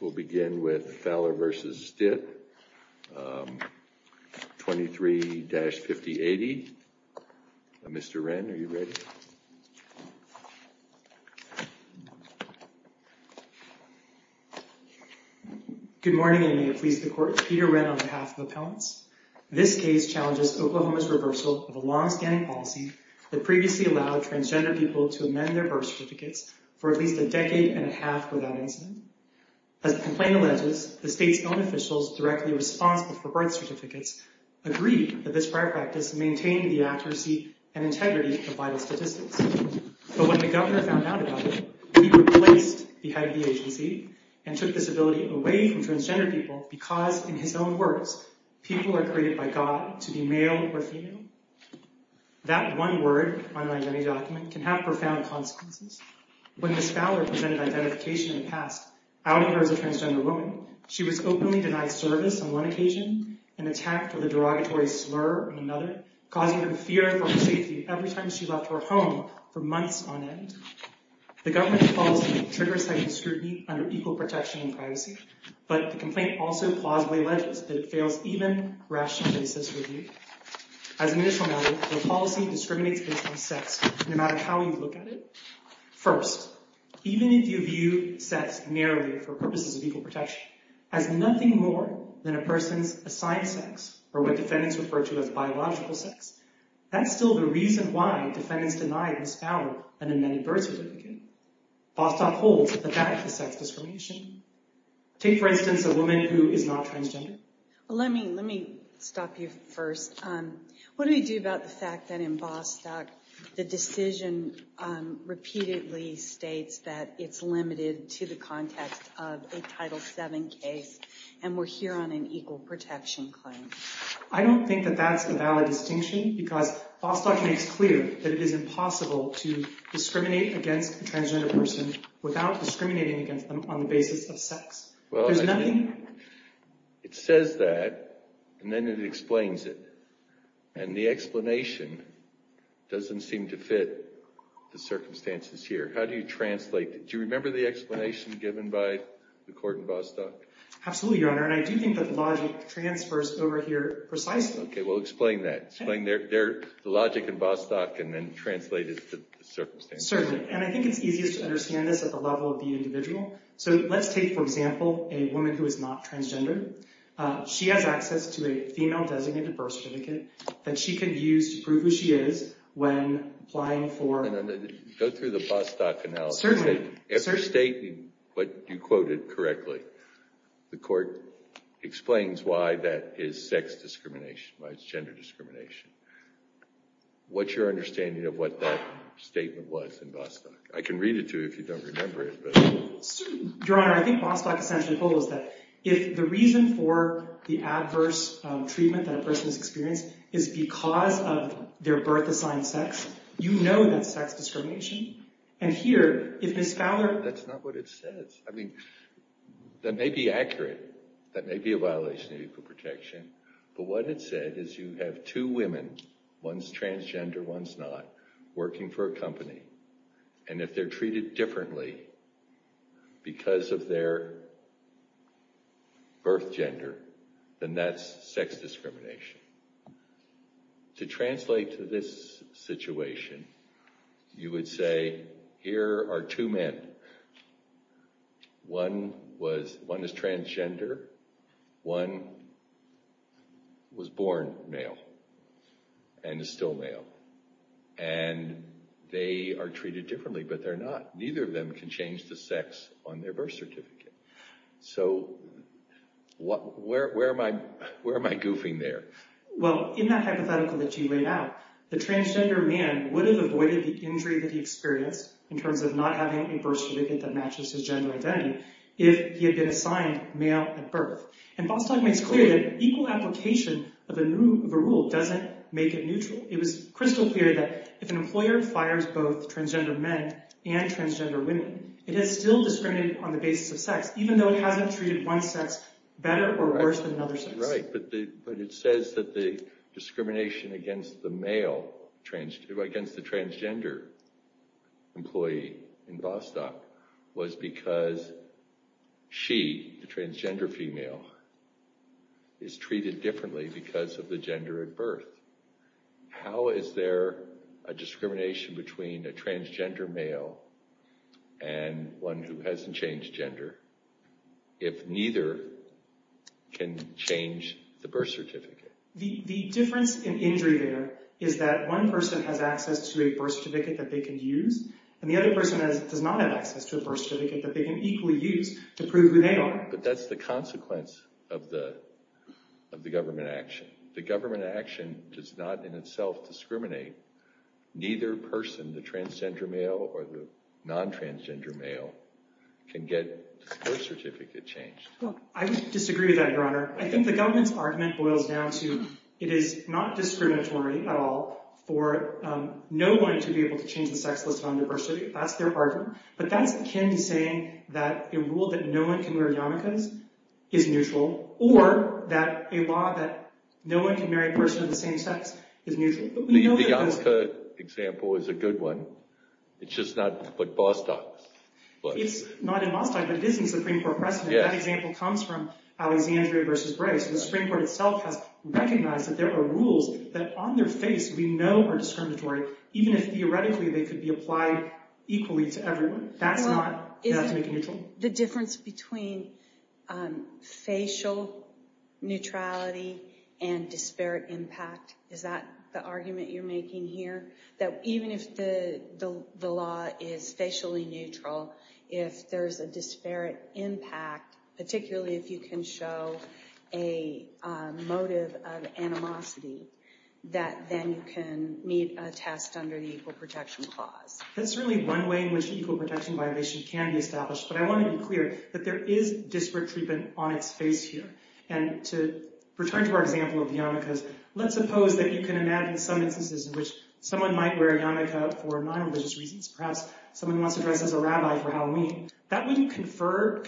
We'll begin with Fowler v. Stitt, 23-5080. Mr. Wren, are you ready? Good morning, and may it please the Court, I'm Peter Wren on behalf of Appellants. This case challenges Oklahoma's reversal of a long-standing policy that previously allowed transgender people to amend their birth certificates for at least a decade and a half without incident. As the complaint alleges, the state's own officials directly responsible for birth certificates agreed that this prior practice maintained the accuracy and integrity of vital statistics. But when the Governor found out about it, he replaced the head of the agency and took this ability away from transgender people because, in his own words, people are created by God to be male or female. That one word on an identity document can have profound consequences. When Ms. Fowler presented identification in the past, outing her as a transgender woman, she was openly denied service on one occasion and attacked with a derogatory slur on another, causing her fear for her safety every time she left her home for months on end. The Government's policy triggers heightened scrutiny under equal protection and privacy, but the complaint also plausibly alleges that it fails even rational basis review. As an initial matter, the policy discriminates based on sex, no matter how you look at it. First, even if you view sex narrowly for purposes of equal protection as nothing more than a person's assigned sex, or what defendants refer to as biological sex, that's still the reason why defendants denied Ms. Fowler an amended birth certificate. Vostok holds that that is sex discrimination. Take, for instance, a woman who is not transgender. Let me stop you first. What do we do about the fact that in Vostok the decision repeatedly states that it's limited to the context of a Title VII case and we're here on an equal protection claim? I don't think that that's a valid distinction because Vostok makes clear that it is impossible to discriminate against a transgender person without discriminating against them on the basis of sex. Well, it says that, and then it explains it, and the explanation doesn't seem to fit the circumstances here. How do you translate it? Do you remember the explanation given by the court in Vostok? Absolutely, Your Honor, and I do think that the logic transfers over here precisely. Okay, well, explain that. Explain the logic in Vostok and then translate it to the circumstances. Certainly, and I think it's easiest to understand this at the level of the individual. So let's take, for example, a woman who is not transgender. She has access to a female-designated birth certificate that she can use to prove who she is when applying for— Go through the Vostok analysis. Certainly. If you're stating what you quoted correctly, the court explains why that is sex discrimination, why it's gender discrimination, what's your understanding of what that statement was in Vostok? I can read it to you if you don't remember it. Your Honor, I think Vostok essentially holds that if the reason for the adverse treatment that a person has experienced is because of their birth-assigned sex, you know that's sex discrimination. And here, if Ms. Fowler— That's not what it says. I mean, that may be accurate. That may be a violation of Equal Protection. But what it said is you have two women, one's transgender, one's not, working for a company, and if they're treated differently because of their birth gender, then that's sex discrimination. To translate to this situation, you would say here are two men. One is transgender. One was born male and is still male. And they are treated differently, but they're not. Neither of them can change the sex on their birth certificate. So where am I goofing there? Well, in that hypothetical that you laid out, the transgender man would have avoided the injury that he experienced in terms of not having a birth certificate that matches his gender identity if he had been assigned male at birth. And Vostok makes clear that equal application of a rule doesn't make it neutral. It was crystal clear that if an employer fires both transgender men and transgender women, it is still discriminated on the basis of sex, even though it hasn't treated one sex better or worse than another sex. Right. But it says that the discrimination against the male—against the transgender employee in Vostok was because she, the transgender female, is treated differently because of the gender at birth. How is there a discrimination between a transgender male and one who hasn't changed gender if neither can change the birth certificate? The difference in injury there is that one person has access to a birth certificate that they can use, and the other person does not have access to a birth certificate that they can equally use to prove who they are. But that's the consequence of the government action. The government action does not in itself discriminate. Neither person, the transgender male or the non-transgender male, can get a birth certificate changed. I disagree with that, Your Honor. I think the government's argument boils down to it is not discriminatory at all for no one to be able to change the sex list on their birth certificate. That's their argument. But that's akin to saying that a rule that no one can wear yarmulkes is neutral, or that a law that no one can marry a person of the same sex is neutral. The Youngster example is a good one. It's just not in Vostok. It's not in Vostok, but it is in the Supreme Court precedent. That example comes from Alexandria v. Brace. And the Supreme Court itself has recognized that there are rules that on their face we know are discriminatory, even if theoretically they could be applied equally to everyone. That's not definitely neutral. The difference between facial neutrality and disparate impact, is that the argument you're making here? That even if the law is facially neutral, if there's a disparate impact, particularly if you can show a motive of animosity, that then you can meet a test under the Equal Protection Clause. That's certainly one way in which an equal protection violation can be established. But I want to be clear that there is disparate treatment on its face here. And to return to our example of the yarmulkes, let's suppose that you can imagine some instances in which someone might wear a yarmulke for non-religious reasons. Perhaps someone wants to dress as a rabbi for Halloween. That wouldn't convert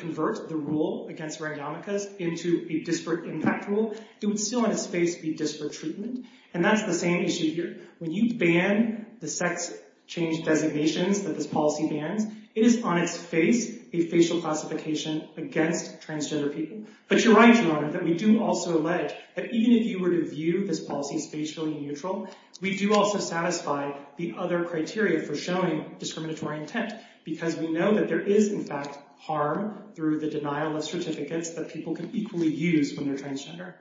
the rule against randomicas into a disparate impact rule. It would still on its face be disparate treatment. And that's the same issue here. When you ban the sex change designations that this policy bans, it is on its face a facial classification against transgender people. But you're right, Your Honor, that we do also allege that even if you were to view this policy as facially neutral, we do also satisfy the other criteria for showing discriminatory intent. Because we know that there is, in fact, harm through the denial of certificates that people can equally use when they're transgender.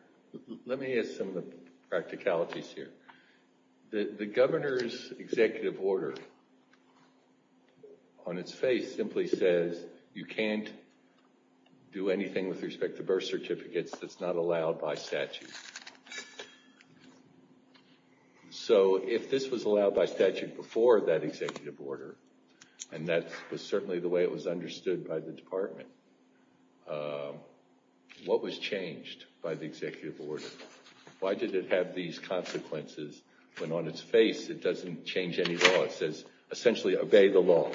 Let me add some of the practicalities here. The governor's executive order on its face simply says you can't do anything with respect to birth certificates that's not allowed by statute. So if this was allowed by statute before that executive order, and that was certainly the way it was understood by the department, what was changed by the executive order? Why did it have these consequences when on its face it doesn't change any law? It says essentially obey the law.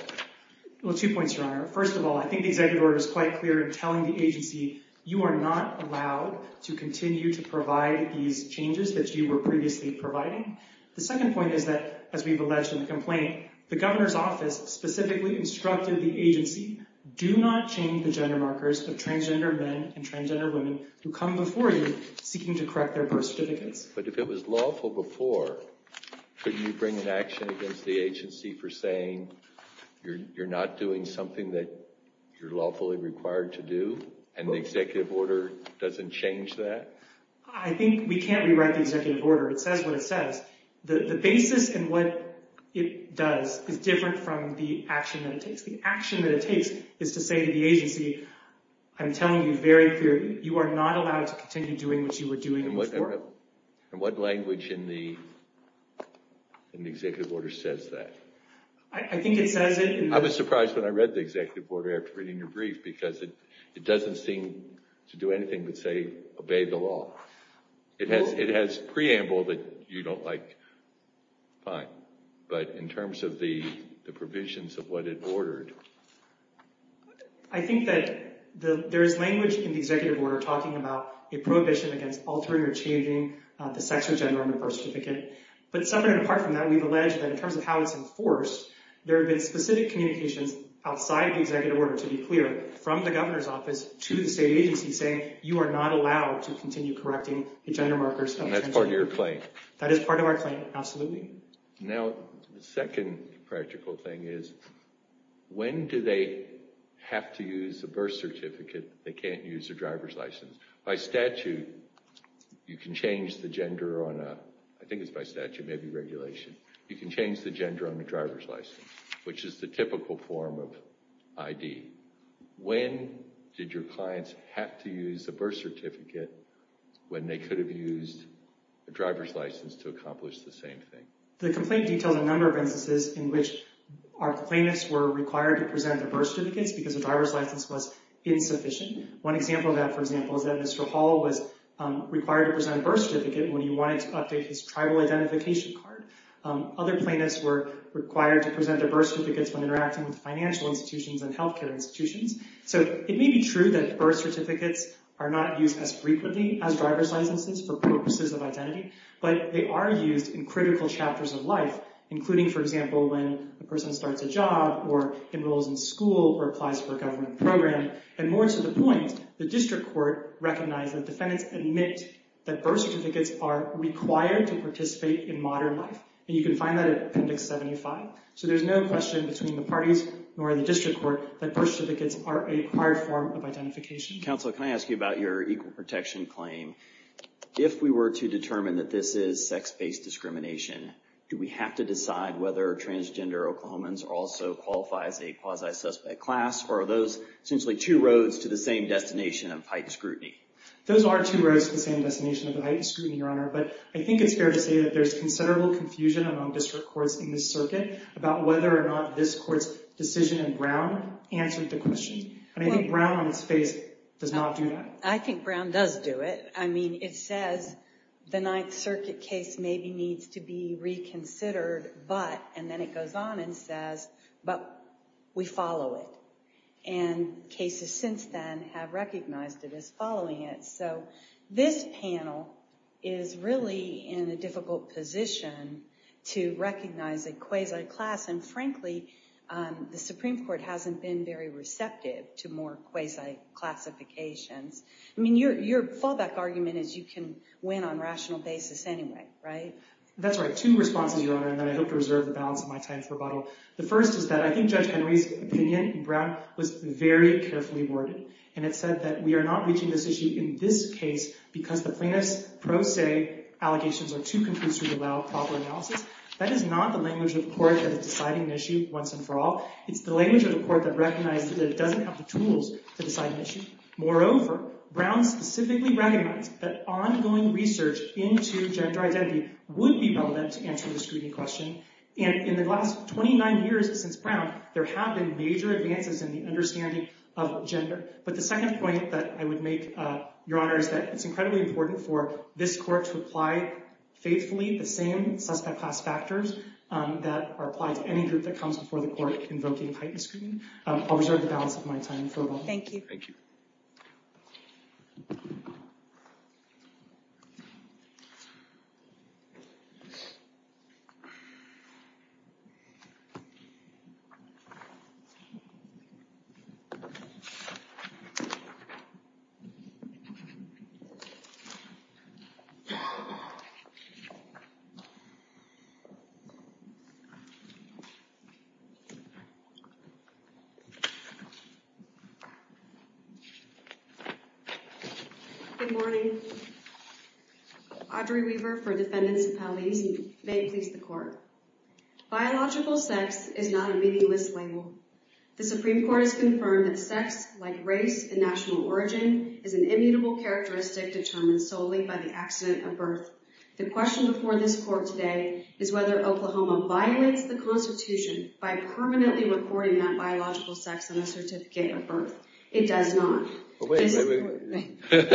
Well, two points, Your Honor. First of all, I think the executive order is quite clear in telling the agency, you are not allowed to continue to provide these changes that you were previously providing. The second point is that, as we've alleged in the complaint, the governor's office specifically instructed the agency, do not change the gender markers of transgender men and transgender women who come before you seeking to correct their birth certificates. But if it was lawful before, couldn't you bring an action against the agency for saying you're not doing something that you're lawfully required to do, and the executive order doesn't change that? I think we can't rewrite the executive order. It says what it says. The basis in what it does is different from the action that it takes. The action that it takes is to say to the agency, I'm telling you very clearly, you are not allowed to continue doing what you were doing before. And what language in the executive order says that? I think it says it. I was surprised when I read the executive order after reading your brief because it doesn't seem to do anything but say obey the law. It has preamble that you don't like. Fine. But in terms of the provisions of what it ordered? I think that there is language in the executive order talking about a prohibition against altering or changing the sex or gender on your birth certificate. But separate and apart from that, we've alleged that in terms of how it's enforced, there have been specific communications outside the executive order, to be clear, from the governor's office to the state agency saying you are not allowed to continue correcting the gender markers of transgender men. And that's part of your claim? That is part of our claim, absolutely. Now, the second practical thing is, when do they have to use a birth certificate? They can't use a driver's license. By statute, you can change the gender on a, I think it's by statute, maybe regulation. You can change the gender on a driver's license, which is the typical form of ID. When did your clients have to use a birth certificate when they could have used a driver's license to accomplish the same thing? The complaint details a number of instances in which our plaintiffs were required to present their birth certificates because the driver's license was insufficient. One example of that, for example, is that Mr. Hall was required to present a birth certificate when he wanted to update his tribal identification card. Other plaintiffs were required to present their birth certificates when interacting with financial institutions and healthcare institutions. So, it may be true that birth certificates are not used as frequently as driver's licenses for purposes of identity, but they are used in critical chapters of life, including, for example, when a person starts a job or enrolls in school or applies for a government program. And more to the point, the district court recognized that defendants admit that birth certificates are required to participate in modern life. And you can find that at Appendix 75. So, there's no question between the parties or the district court that birth certificates are a required form of identification. Counsel, can I ask you about your equal protection claim? If we were to determine that this is sex-based discrimination, do we have to decide whether transgender Oklahomans also qualify as a quasi-suspect class, or are those essentially two roads to the same destination of heightened scrutiny? Those are two roads to the same destination of heightened scrutiny, Your Honor, but I think it's fair to say that there's considerable confusion among district courts in this circuit about whether or not this court's decision in Brown answered the question. I think Brown, on its face, does not do that. I think Brown does do it. I mean, it says the Ninth Circuit case maybe needs to be reconsidered, but, and then it goes on and says, but we follow it. And cases since then have recognized it as following it. So, this panel is really in a difficult position to recognize a quasi-class, and frankly, the Supreme Court hasn't been very receptive to more quasi-classifications. I mean, your fallback argument is you can win on rational basis anyway, right? That's right. Two responses, Your Honor, and then I hope to reserve the balance of my time for rebuttal. The first is that I think Judge Henry's opinion in Brown was very carefully worded, and it said that we are not reaching this issue in this case because the plaintiff's pro se allegations are too confused to allow proper analysis. That is not the language of the court that is deciding the issue once and for all. It's the language of the court that recognizes that it doesn't have the tools to decide an issue. Moreover, Brown specifically recommends that ongoing research into gender identity would be relevant to answer the scrutiny question. And in the last 29 years since Brown, there have been major advances in the understanding of gender. But the second point that I would make, Your Honor, is that it's incredibly important for this court to apply faithfully the same suspect class factors that are applied to any group that comes before the court invoking heightened scrutiny. I'll reserve the balance of my time for rebuttal. Thank you. Good morning. Audrey Weaver for Defendants Appellees. May it please the court. Biological sex is not a meaningless label. The Supreme Court has confirmed that sex, like race and national origin, is an immutable characteristic determined solely by the accident of birth. by permanently recording that biological sex on a certificate of birth. It does not. Wait, wait, wait.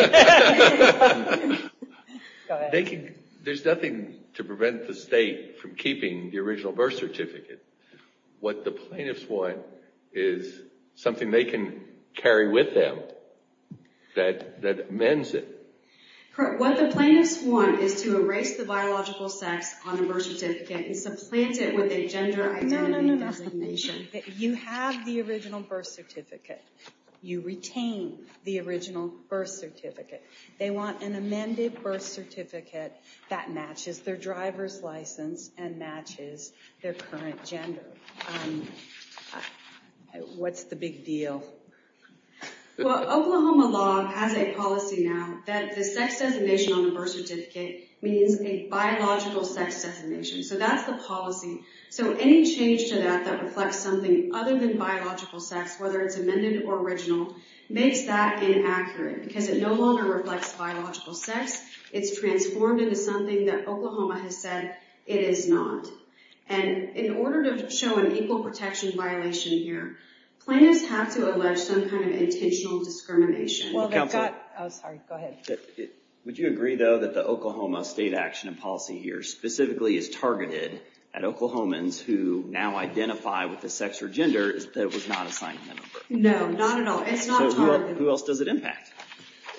There's nothing to prevent the state from keeping the original birth certificate. What the plaintiffs want is something they can carry with them that amends it. Correct. What the plaintiffs want is to erase the biological sex on the birth certificate and supplant it with a gender identity designation. No, no, no. You have the original birth certificate. You retain the original birth certificate. They want an amended birth certificate that matches their driver's license and matches their current gender. What's the big deal? Well, Oklahoma law has a policy now that the sex designation on the birth certificate means a biological sex designation. So that's the policy. So any change to that that reflects something other than biological sex, whether it's amended or original, makes that inaccurate because it no longer reflects biological sex. It's transformed into something that Oklahoma has said it is not. And in order to show an equal protection violation here, plaintiffs have to allege some kind of intentional discrimination. Sorry, go ahead. Would you agree, though, that the Oklahoma state action and policy here specifically is targeted at Oklahomans who now identify with a sex or gender that was not assigned to them? No, not at all. It's not targeted. So who else does it impact?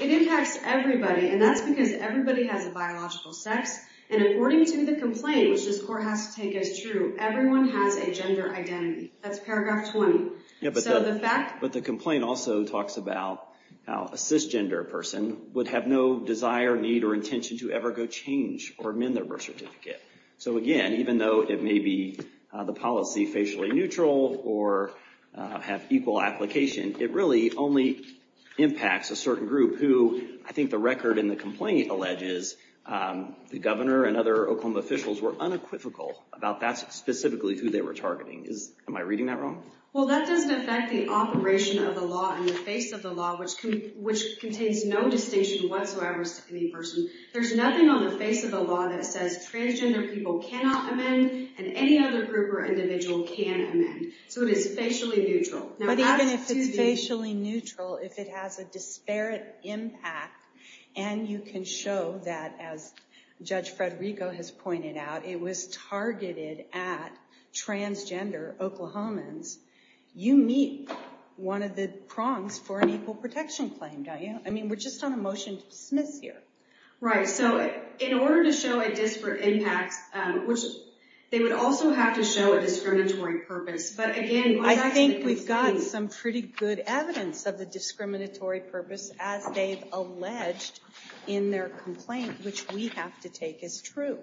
It impacts everybody, and that's because everybody has a biological sex. And according to the complaint, which this court has to take as true, everyone has a gender identity. That's paragraph 20. But the complaint also talks about how a cisgender person would have no desire, need, or intention to ever go change or amend their birth certificate. So, again, even though it may be the policy facially neutral or have equal application, it really only impacts a certain group who, I think the record in the complaint alleges, the governor and other Oklahoma officials were unequivocal about that specifically who they were targeting. Am I reading that wrong? Well, that doesn't affect the operation of the law in the face of the law, which contains no distinction whatsoever to any person. There's nothing on the face of the law that says transgender people cannot amend and any other group or individual can amend. So it is facially neutral. But even if it's facially neutral, if it has a disparate impact, and you can show that, as Judge Federico has pointed out, it was targeted at transgender Oklahomans, you meet one of the prongs for an equal protection claim, don't you? I mean, we're just on a motion to dismiss here. Right. So in order to show a disparate impact, they would also have to show a discriminatory purpose. But, again, I think we've got some pretty good evidence of the discriminatory purpose as they've alleged in their complaint, which we have to take as true.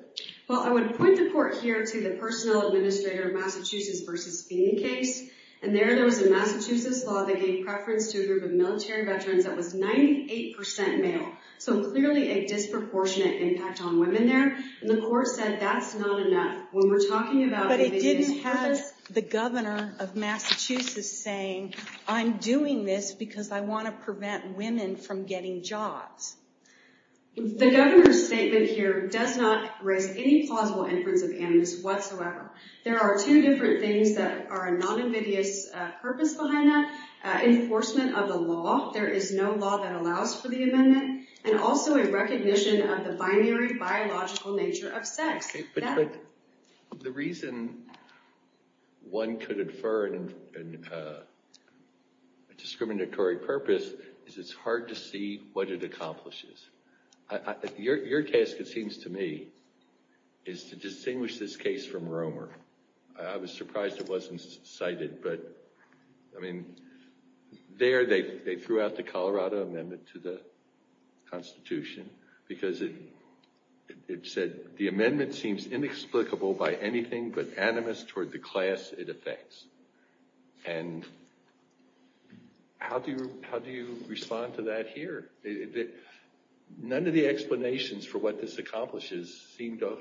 Well, I would point the court here to the Personnel Administrator of Massachusetts v. Feeney case. And there, there was a Massachusetts law that gave preference to a group of military veterans that was 98% male. So clearly a disproportionate impact on women there. And the court said that's not enough. When we're talking about what they did in Texas. But it didn't have the governor of Massachusetts saying, I'm doing this because I want to prevent women from getting jobs. The governor's statement here does not raise any plausible inference of animus whatsoever. There are two different things that are a non-obvious purpose behind that. Enforcement of the law. There is no law that allows for the amendment. And also a recognition of the binary biological nature of sex. But the reason one could infer a discriminatory purpose is it's hard to see what it accomplishes. Your task, it seems to me, is to distinguish this case from Romer. I was surprised it wasn't cited. But, I mean, there they threw out the Colorado amendment to the Constitution because it said the amendment seems inexplicable by anything but animus toward the class it affects. And how do you respond to that here? None of the explanations for what this accomplishes seem to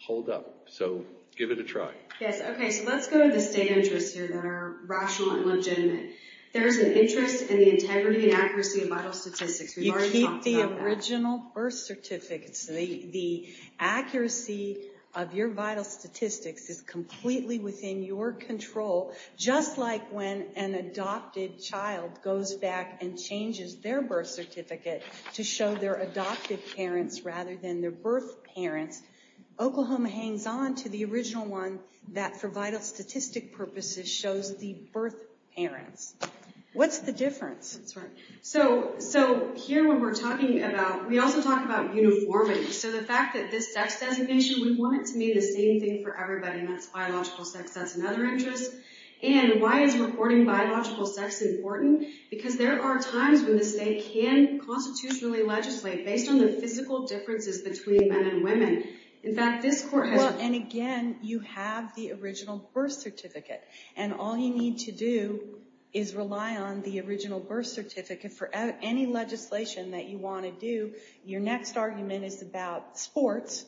hold up. So give it a try. Yes, OK. So let's go to the state interests here that are rational and legitimate. There is an interest in the integrity and accuracy of vital statistics. We've already talked about that. You keep the original birth certificates. The accuracy of your vital statistics is completely within your control. Just like when an adopted child goes back and changes their birth certificate to show their adoptive parents rather than their birth parents, Oklahoma hangs on to the original one that, for vital statistic purposes, shows the birth parents. What's the difference? So here when we're talking about, we also talk about uniformity. So the fact that this sex designation, we want it to mean the same thing for everybody, and that's biological sex. That's another interest. And why is reporting biological sex important? Because there are times when the state can constitutionally legislate based on the physical differences between men and women. In fact, this court has... Well, and again, you have the original birth certificate. And all you need to do is rely on the original birth certificate for any legislation that you want to do. Your next argument is about sports,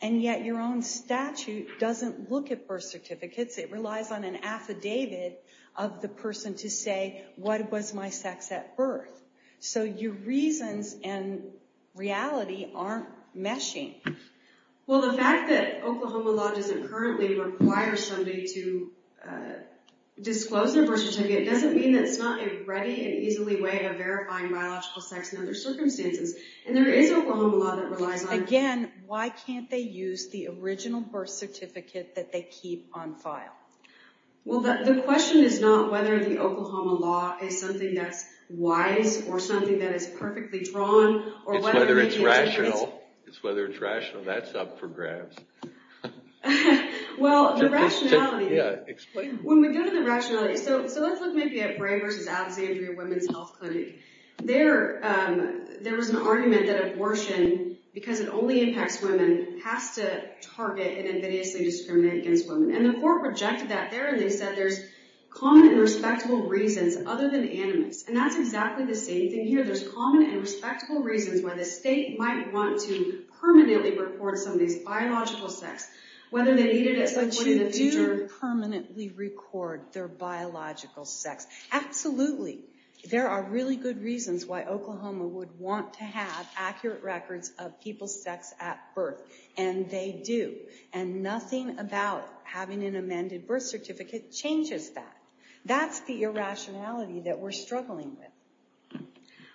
and yet your own statute doesn't look at birth certificates. It relies on an affidavit of the person to say, what was my sex at birth? So your reasons and reality aren't meshing. Well, the fact that Oklahoma law doesn't currently require somebody to disclose their birth certificate doesn't mean that it's not a ready and easily way of verifying biological sex in other circumstances. And there is Oklahoma law that relies on... Again, why can't they use the original birth certificate that they keep on file? Well, the question is not whether the Oklahoma law is something that's wise or something that is perfectly drawn or whether it's rational. It's whether it's rational. That's up for grabs. Well, the rationality... Yeah, explain. When we go to the rationality... So let's look maybe at Bray v. Alexandria Women's Health Clinic. There was an argument that abortion, because it only impacts women, has to target and invidiously discriminate against women. And the court rejected that there, and they said there's common and respectable reasons other than animus. And that's exactly the same thing here. There's common and respectable reasons why the state might want to permanently record somebody's biological sex, whether they need it at some point in the future. But you do permanently record their biological sex. Absolutely. There are really good reasons why Oklahoma would want to have accurate records of people's sex at birth, and they do. And nothing about having an amended birth certificate changes that. That's the irrationality that we're struggling with.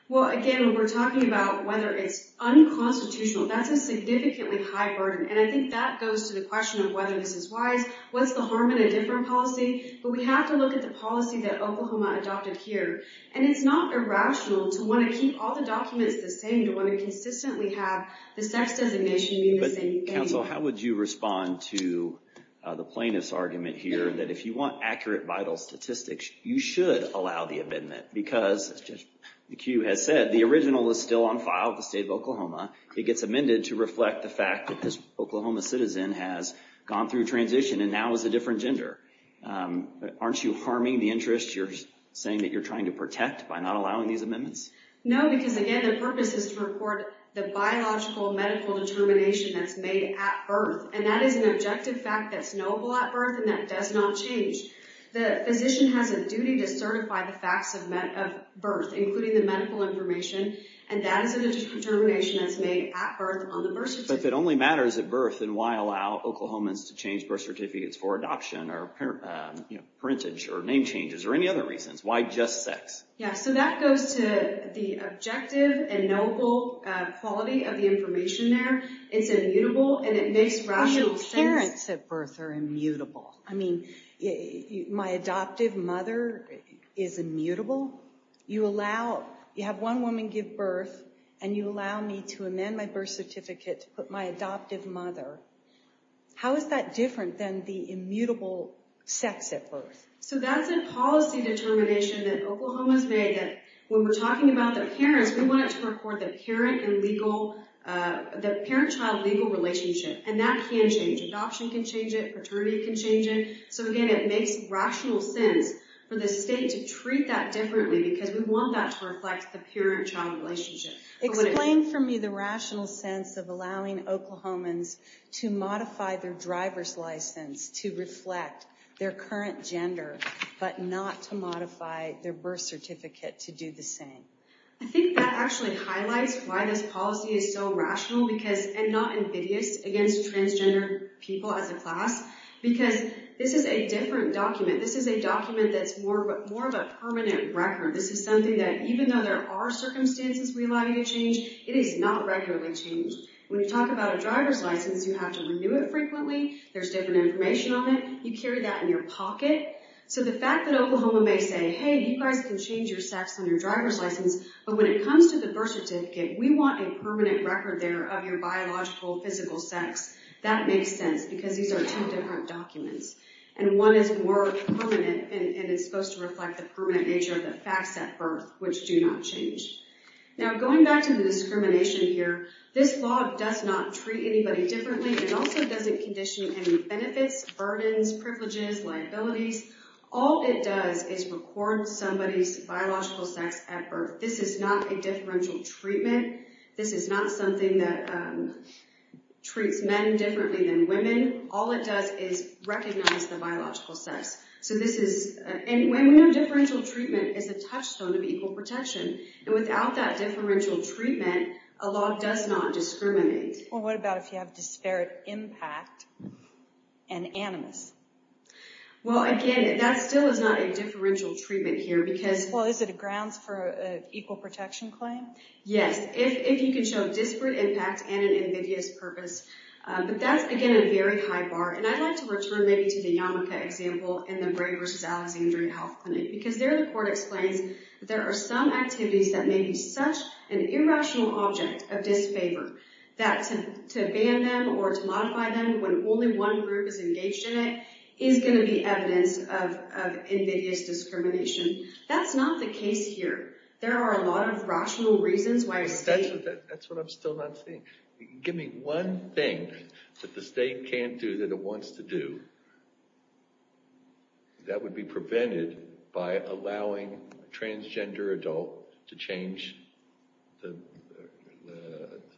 Well, again, when we're talking about whether it's unconstitutional, that's a significantly high burden. And I think that goes to the question of whether this is wise. What's the harm in a different policy? But we have to look at the policy that Oklahoma adopted here. And it's not irrational to want to keep all the documents the same, to want to consistently have the sex designation be the same. But, counsel, how would you respond to the plaintiff's argument here that if you want accurate vital statistics, you should allow the amendment because, as Judge McHugh has said, the original is still on file with the state of Oklahoma. It gets amended to reflect the fact that this Oklahoma citizen has gone through transition and now is a different gender. Aren't you harming the interest you're saying that you're trying to protect by not allowing these amendments? No, because, again, the purpose is to record the biological medical determination that's made at birth. And that is an objective fact that's knowable at birth, and that does not change. The physician has a duty to certify the facts of birth, including the medical information, and that is a determination that's made at birth on the birth certificate. But if it only matters at birth, then why allow Oklahomans to change birth certificates for adoption or parentage or name changes or any other reasons? Why just sex? Yeah, so that goes to the objective and knowable quality of the information there. It's immutable, and it makes rational sense. Even parents at birth are immutable. I mean, my adoptive mother is immutable. You have one woman give birth, and you allow me to amend my birth certificate to put my adoptive mother. How is that different than the immutable sex at birth? So that's a policy determination that Oklahoma's made that when we're talking about the parents, we want it to record the parent-child legal relationship, and that can change. Adoption can change it. Paternity can change it. So again, it makes rational sense for the state to treat that differently because we want that to reflect the parent-child relationship. Explain for me the rational sense of allowing Oklahomans to modify their driver's license to reflect their current gender, but not to modify their birth certificate to do the same. I think that actually highlights why this policy is so rational because, and not invidious against transgender people as a class, because this is a different document. This is a document that's more of a permanent record. This is something that even though there are circumstances we allow you to change, it is not regularly changed. When you talk about a driver's license, you have to renew it frequently. There's different information on it. You carry that in your pocket. So the fact that Oklahoma may say, hey, you guys can change your sex on your driver's license, but when it comes to the birth certificate, we want a permanent record there of your biological, physical sex. That makes sense because these are two different documents, and one is more permanent and it's supposed to reflect the permanent nature of the facts at birth, which do not change. Now, going back to the discrimination here, this law does not treat anybody differently. It also doesn't condition any benefits, burdens, privileges, liabilities. All it does is record somebody's biological sex at birth. This is not a differential treatment. This is not something that treats men differently than women. All it does is recognize the biological sex. And when we have differential treatment, it's a touchstone of equal protection. And without that differential treatment, a law does not discriminate. Well, what about if you have disparate impact and animus? Well, again, that still is not a differential treatment here. Well, is it a grounds for an equal protection claim? Yes, if you can show disparate impact and an invidious purpose. But that's, again, a very high bar. And I'd like to return maybe to the Yamaka example in the Bray v. Alexander Health Clinic, because there the court explains that there are some activities that may be such an irrational object of disfavor that to ban them or to modify them when only one group is engaged in it is going to be evidence of invidious discrimination. That's not the case here. There are a lot of rational reasons why a state... That's what I'm still not seeing. Give me one thing that the state can't do that it wants to do that would be prevented by allowing a transgender adult to change the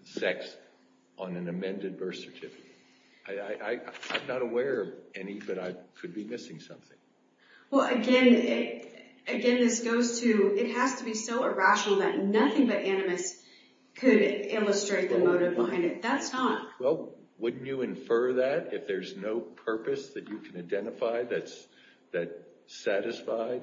sex on an amended birth certificate. I'm not aware of any, but I could be missing something. Well, again, this goes to it has to be so irrational that nothing but animus could illustrate the motive behind it. That's not... Well, wouldn't you infer that if there's no purpose that you can identify that's satisfied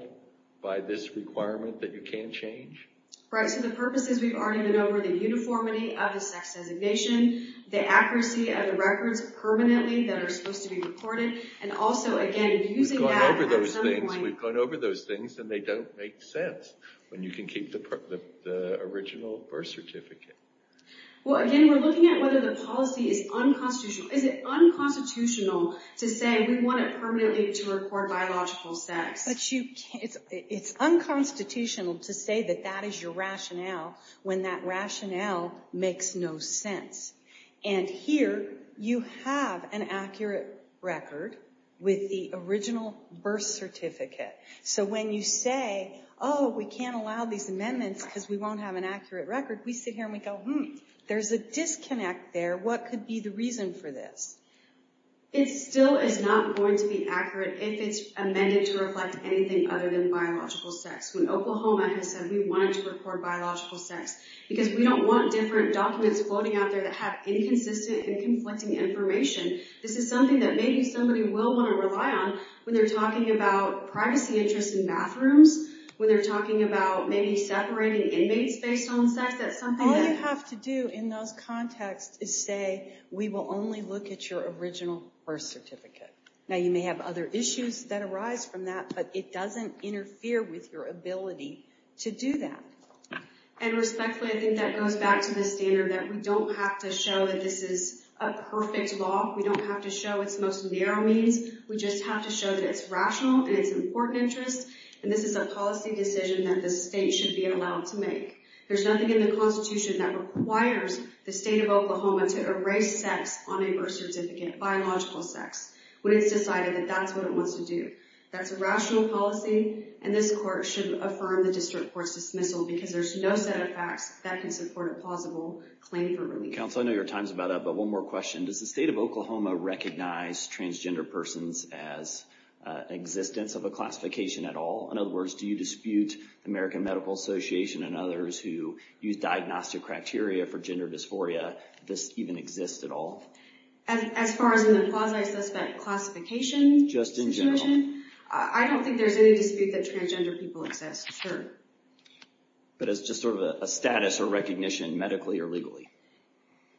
by this requirement that you can't change? Right, so the purpose is we've already been over the uniformity of the sex designation, the accuracy of the records permanently that are supposed to be recorded, and also, again, using that... We've gone over those things, and they don't make sense when you can keep the original birth certificate. Well, again, we're looking at whether the policy is unconstitutional. Is it unconstitutional to say we want it permanently to record biological sex? It's unconstitutional to say that that is your rationale when that rationale makes no sense. And here, you have an accurate record with the original birth certificate. So when you say, oh, we can't allow these amendments because we won't have an accurate record, we sit here and we go, hmm, there's a disconnect there. What could be the reason for this? It still is not going to be accurate if it's amended to reflect anything other than biological sex. When Oklahoma has said we wanted to record biological sex because we don't want different documents floating out there that have inconsistent and conflicting information, this is something that maybe somebody will want to rely on when they're talking about privacy interests in bathrooms, when they're talking about maybe separating inmates based on sex. All you have to do in those contexts is say, we will only look at your original birth certificate. Now, you may have other issues that arise from that, but it doesn't interfere with your ability to do that. And respectfully, I think that goes back to the standard that we don't have to show that this is a perfect law. We don't have to show it's most narrow means. We just have to show that it's rational and it's important interests, and this is a policy decision that the state should be allowed to make. There's nothing in the Constitution that requires the state of Oklahoma to erase sex on a birth certificate, biological sex, when it's decided that that's what it wants to do. That's a rational policy, and this court should affirm the district court's dismissal because there's no set of facts that can support a plausible claim for relief. Counsel, I know your time's about up, but one more question. Does the state of Oklahoma recognize transgender persons as an existence of a classification at all? In other words, do you dispute the American Medical Association and others who use diagnostic criteria for gender dysphoria if this even exists at all? As far as in the quasi-suspect classification situation, I don't think there's any dispute that transgender people exist, sure. But it's just sort of a status or recognition, medically or legally.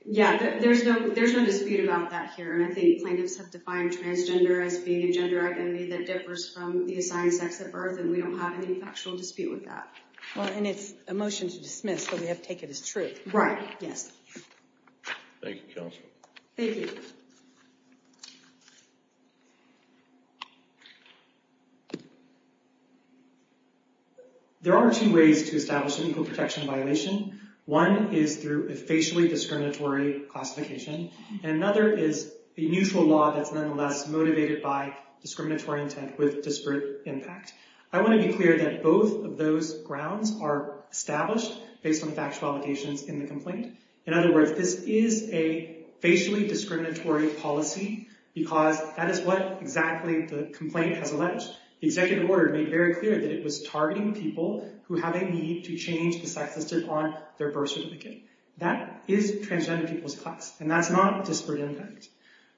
Yeah, there's no dispute about that here, and I think plaintiffs have defined transgender as being a gender identity that differs from the assigned sex at birth, and we don't have any factual dispute with that. Well, and it's a motion to dismiss, so we have to take it as true. Right. Yes. Thank you, Counsel. Thank you. Thank you. There are two ways to establish an equal protection violation. One is through a facially discriminatory classification, and another is a mutual law that's nonetheless motivated by discriminatory intent with disparate impact. I want to be clear that both of those grounds are established based on factual allegations in the complaint. In other words, this is a facially discriminatory policy because that is what exactly the complaint has alleged. The executive order made very clear that it was targeting people who have a need to change the sex listed on their birth certificate. That is transgender people's class, and that's not disparate impact.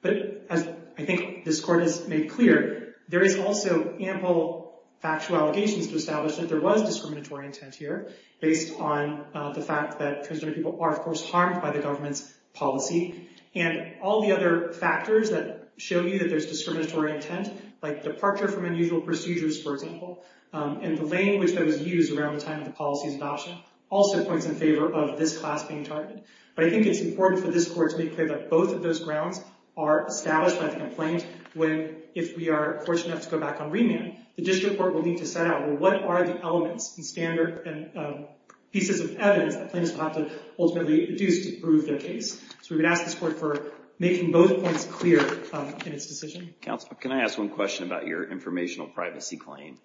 But as I think this Court has made clear, there is also ample factual allegations to establish that there was discriminatory intent here based on the fact that transgender people are, of course, harmed by the government's policy. And all the other factors that show you that there's discriminatory intent, like departure from unusual procedures, for example, and the language that was used around the time of the policy's adoption also points in favor of this class being targeted. But I think it's important for this Court to be clear that both of those grounds are established by the complaint when, if we are fortunate enough to go back on remand, the district court will need to set out, well, what are the elements and pieces of evidence that plaintiffs will have to ultimately reduce to prove their case. So we would ask this Court for making both points clear in its decision. Counsel, can I ask one question about your informational privacy claim?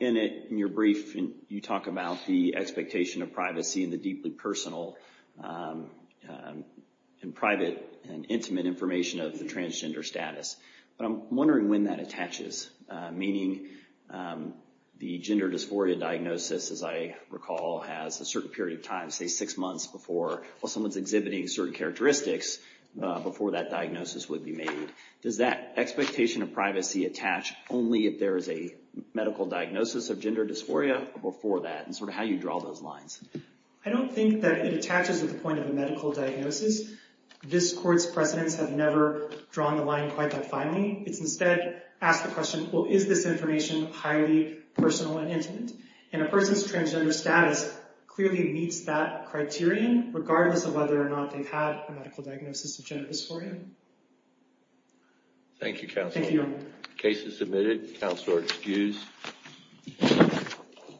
In your brief, you talk about the expectation of privacy and the deeply personal and private and intimate information of the transgender status. But I'm wondering when that attaches, meaning the gender dysphoria diagnosis, as I recall, has a certain period of time, say six months before, while someone's exhibiting certain characteristics, before that diagnosis would be made. Does that expectation of privacy attach only if there is a medical diagnosis of gender dysphoria before that and sort of how you draw those lines? I don't think that it attaches at the point of a medical diagnosis. This Court's precedents have never drawn the line quite that finely. It's instead asked the question, well, is this information highly personal and intimate? And a person's transgender status clearly meets that criterion regardless of whether or not they've had a medical diagnosis of gender dysphoria. Thank you, Counsel. Thank you. Case is submitted. Counselor excused.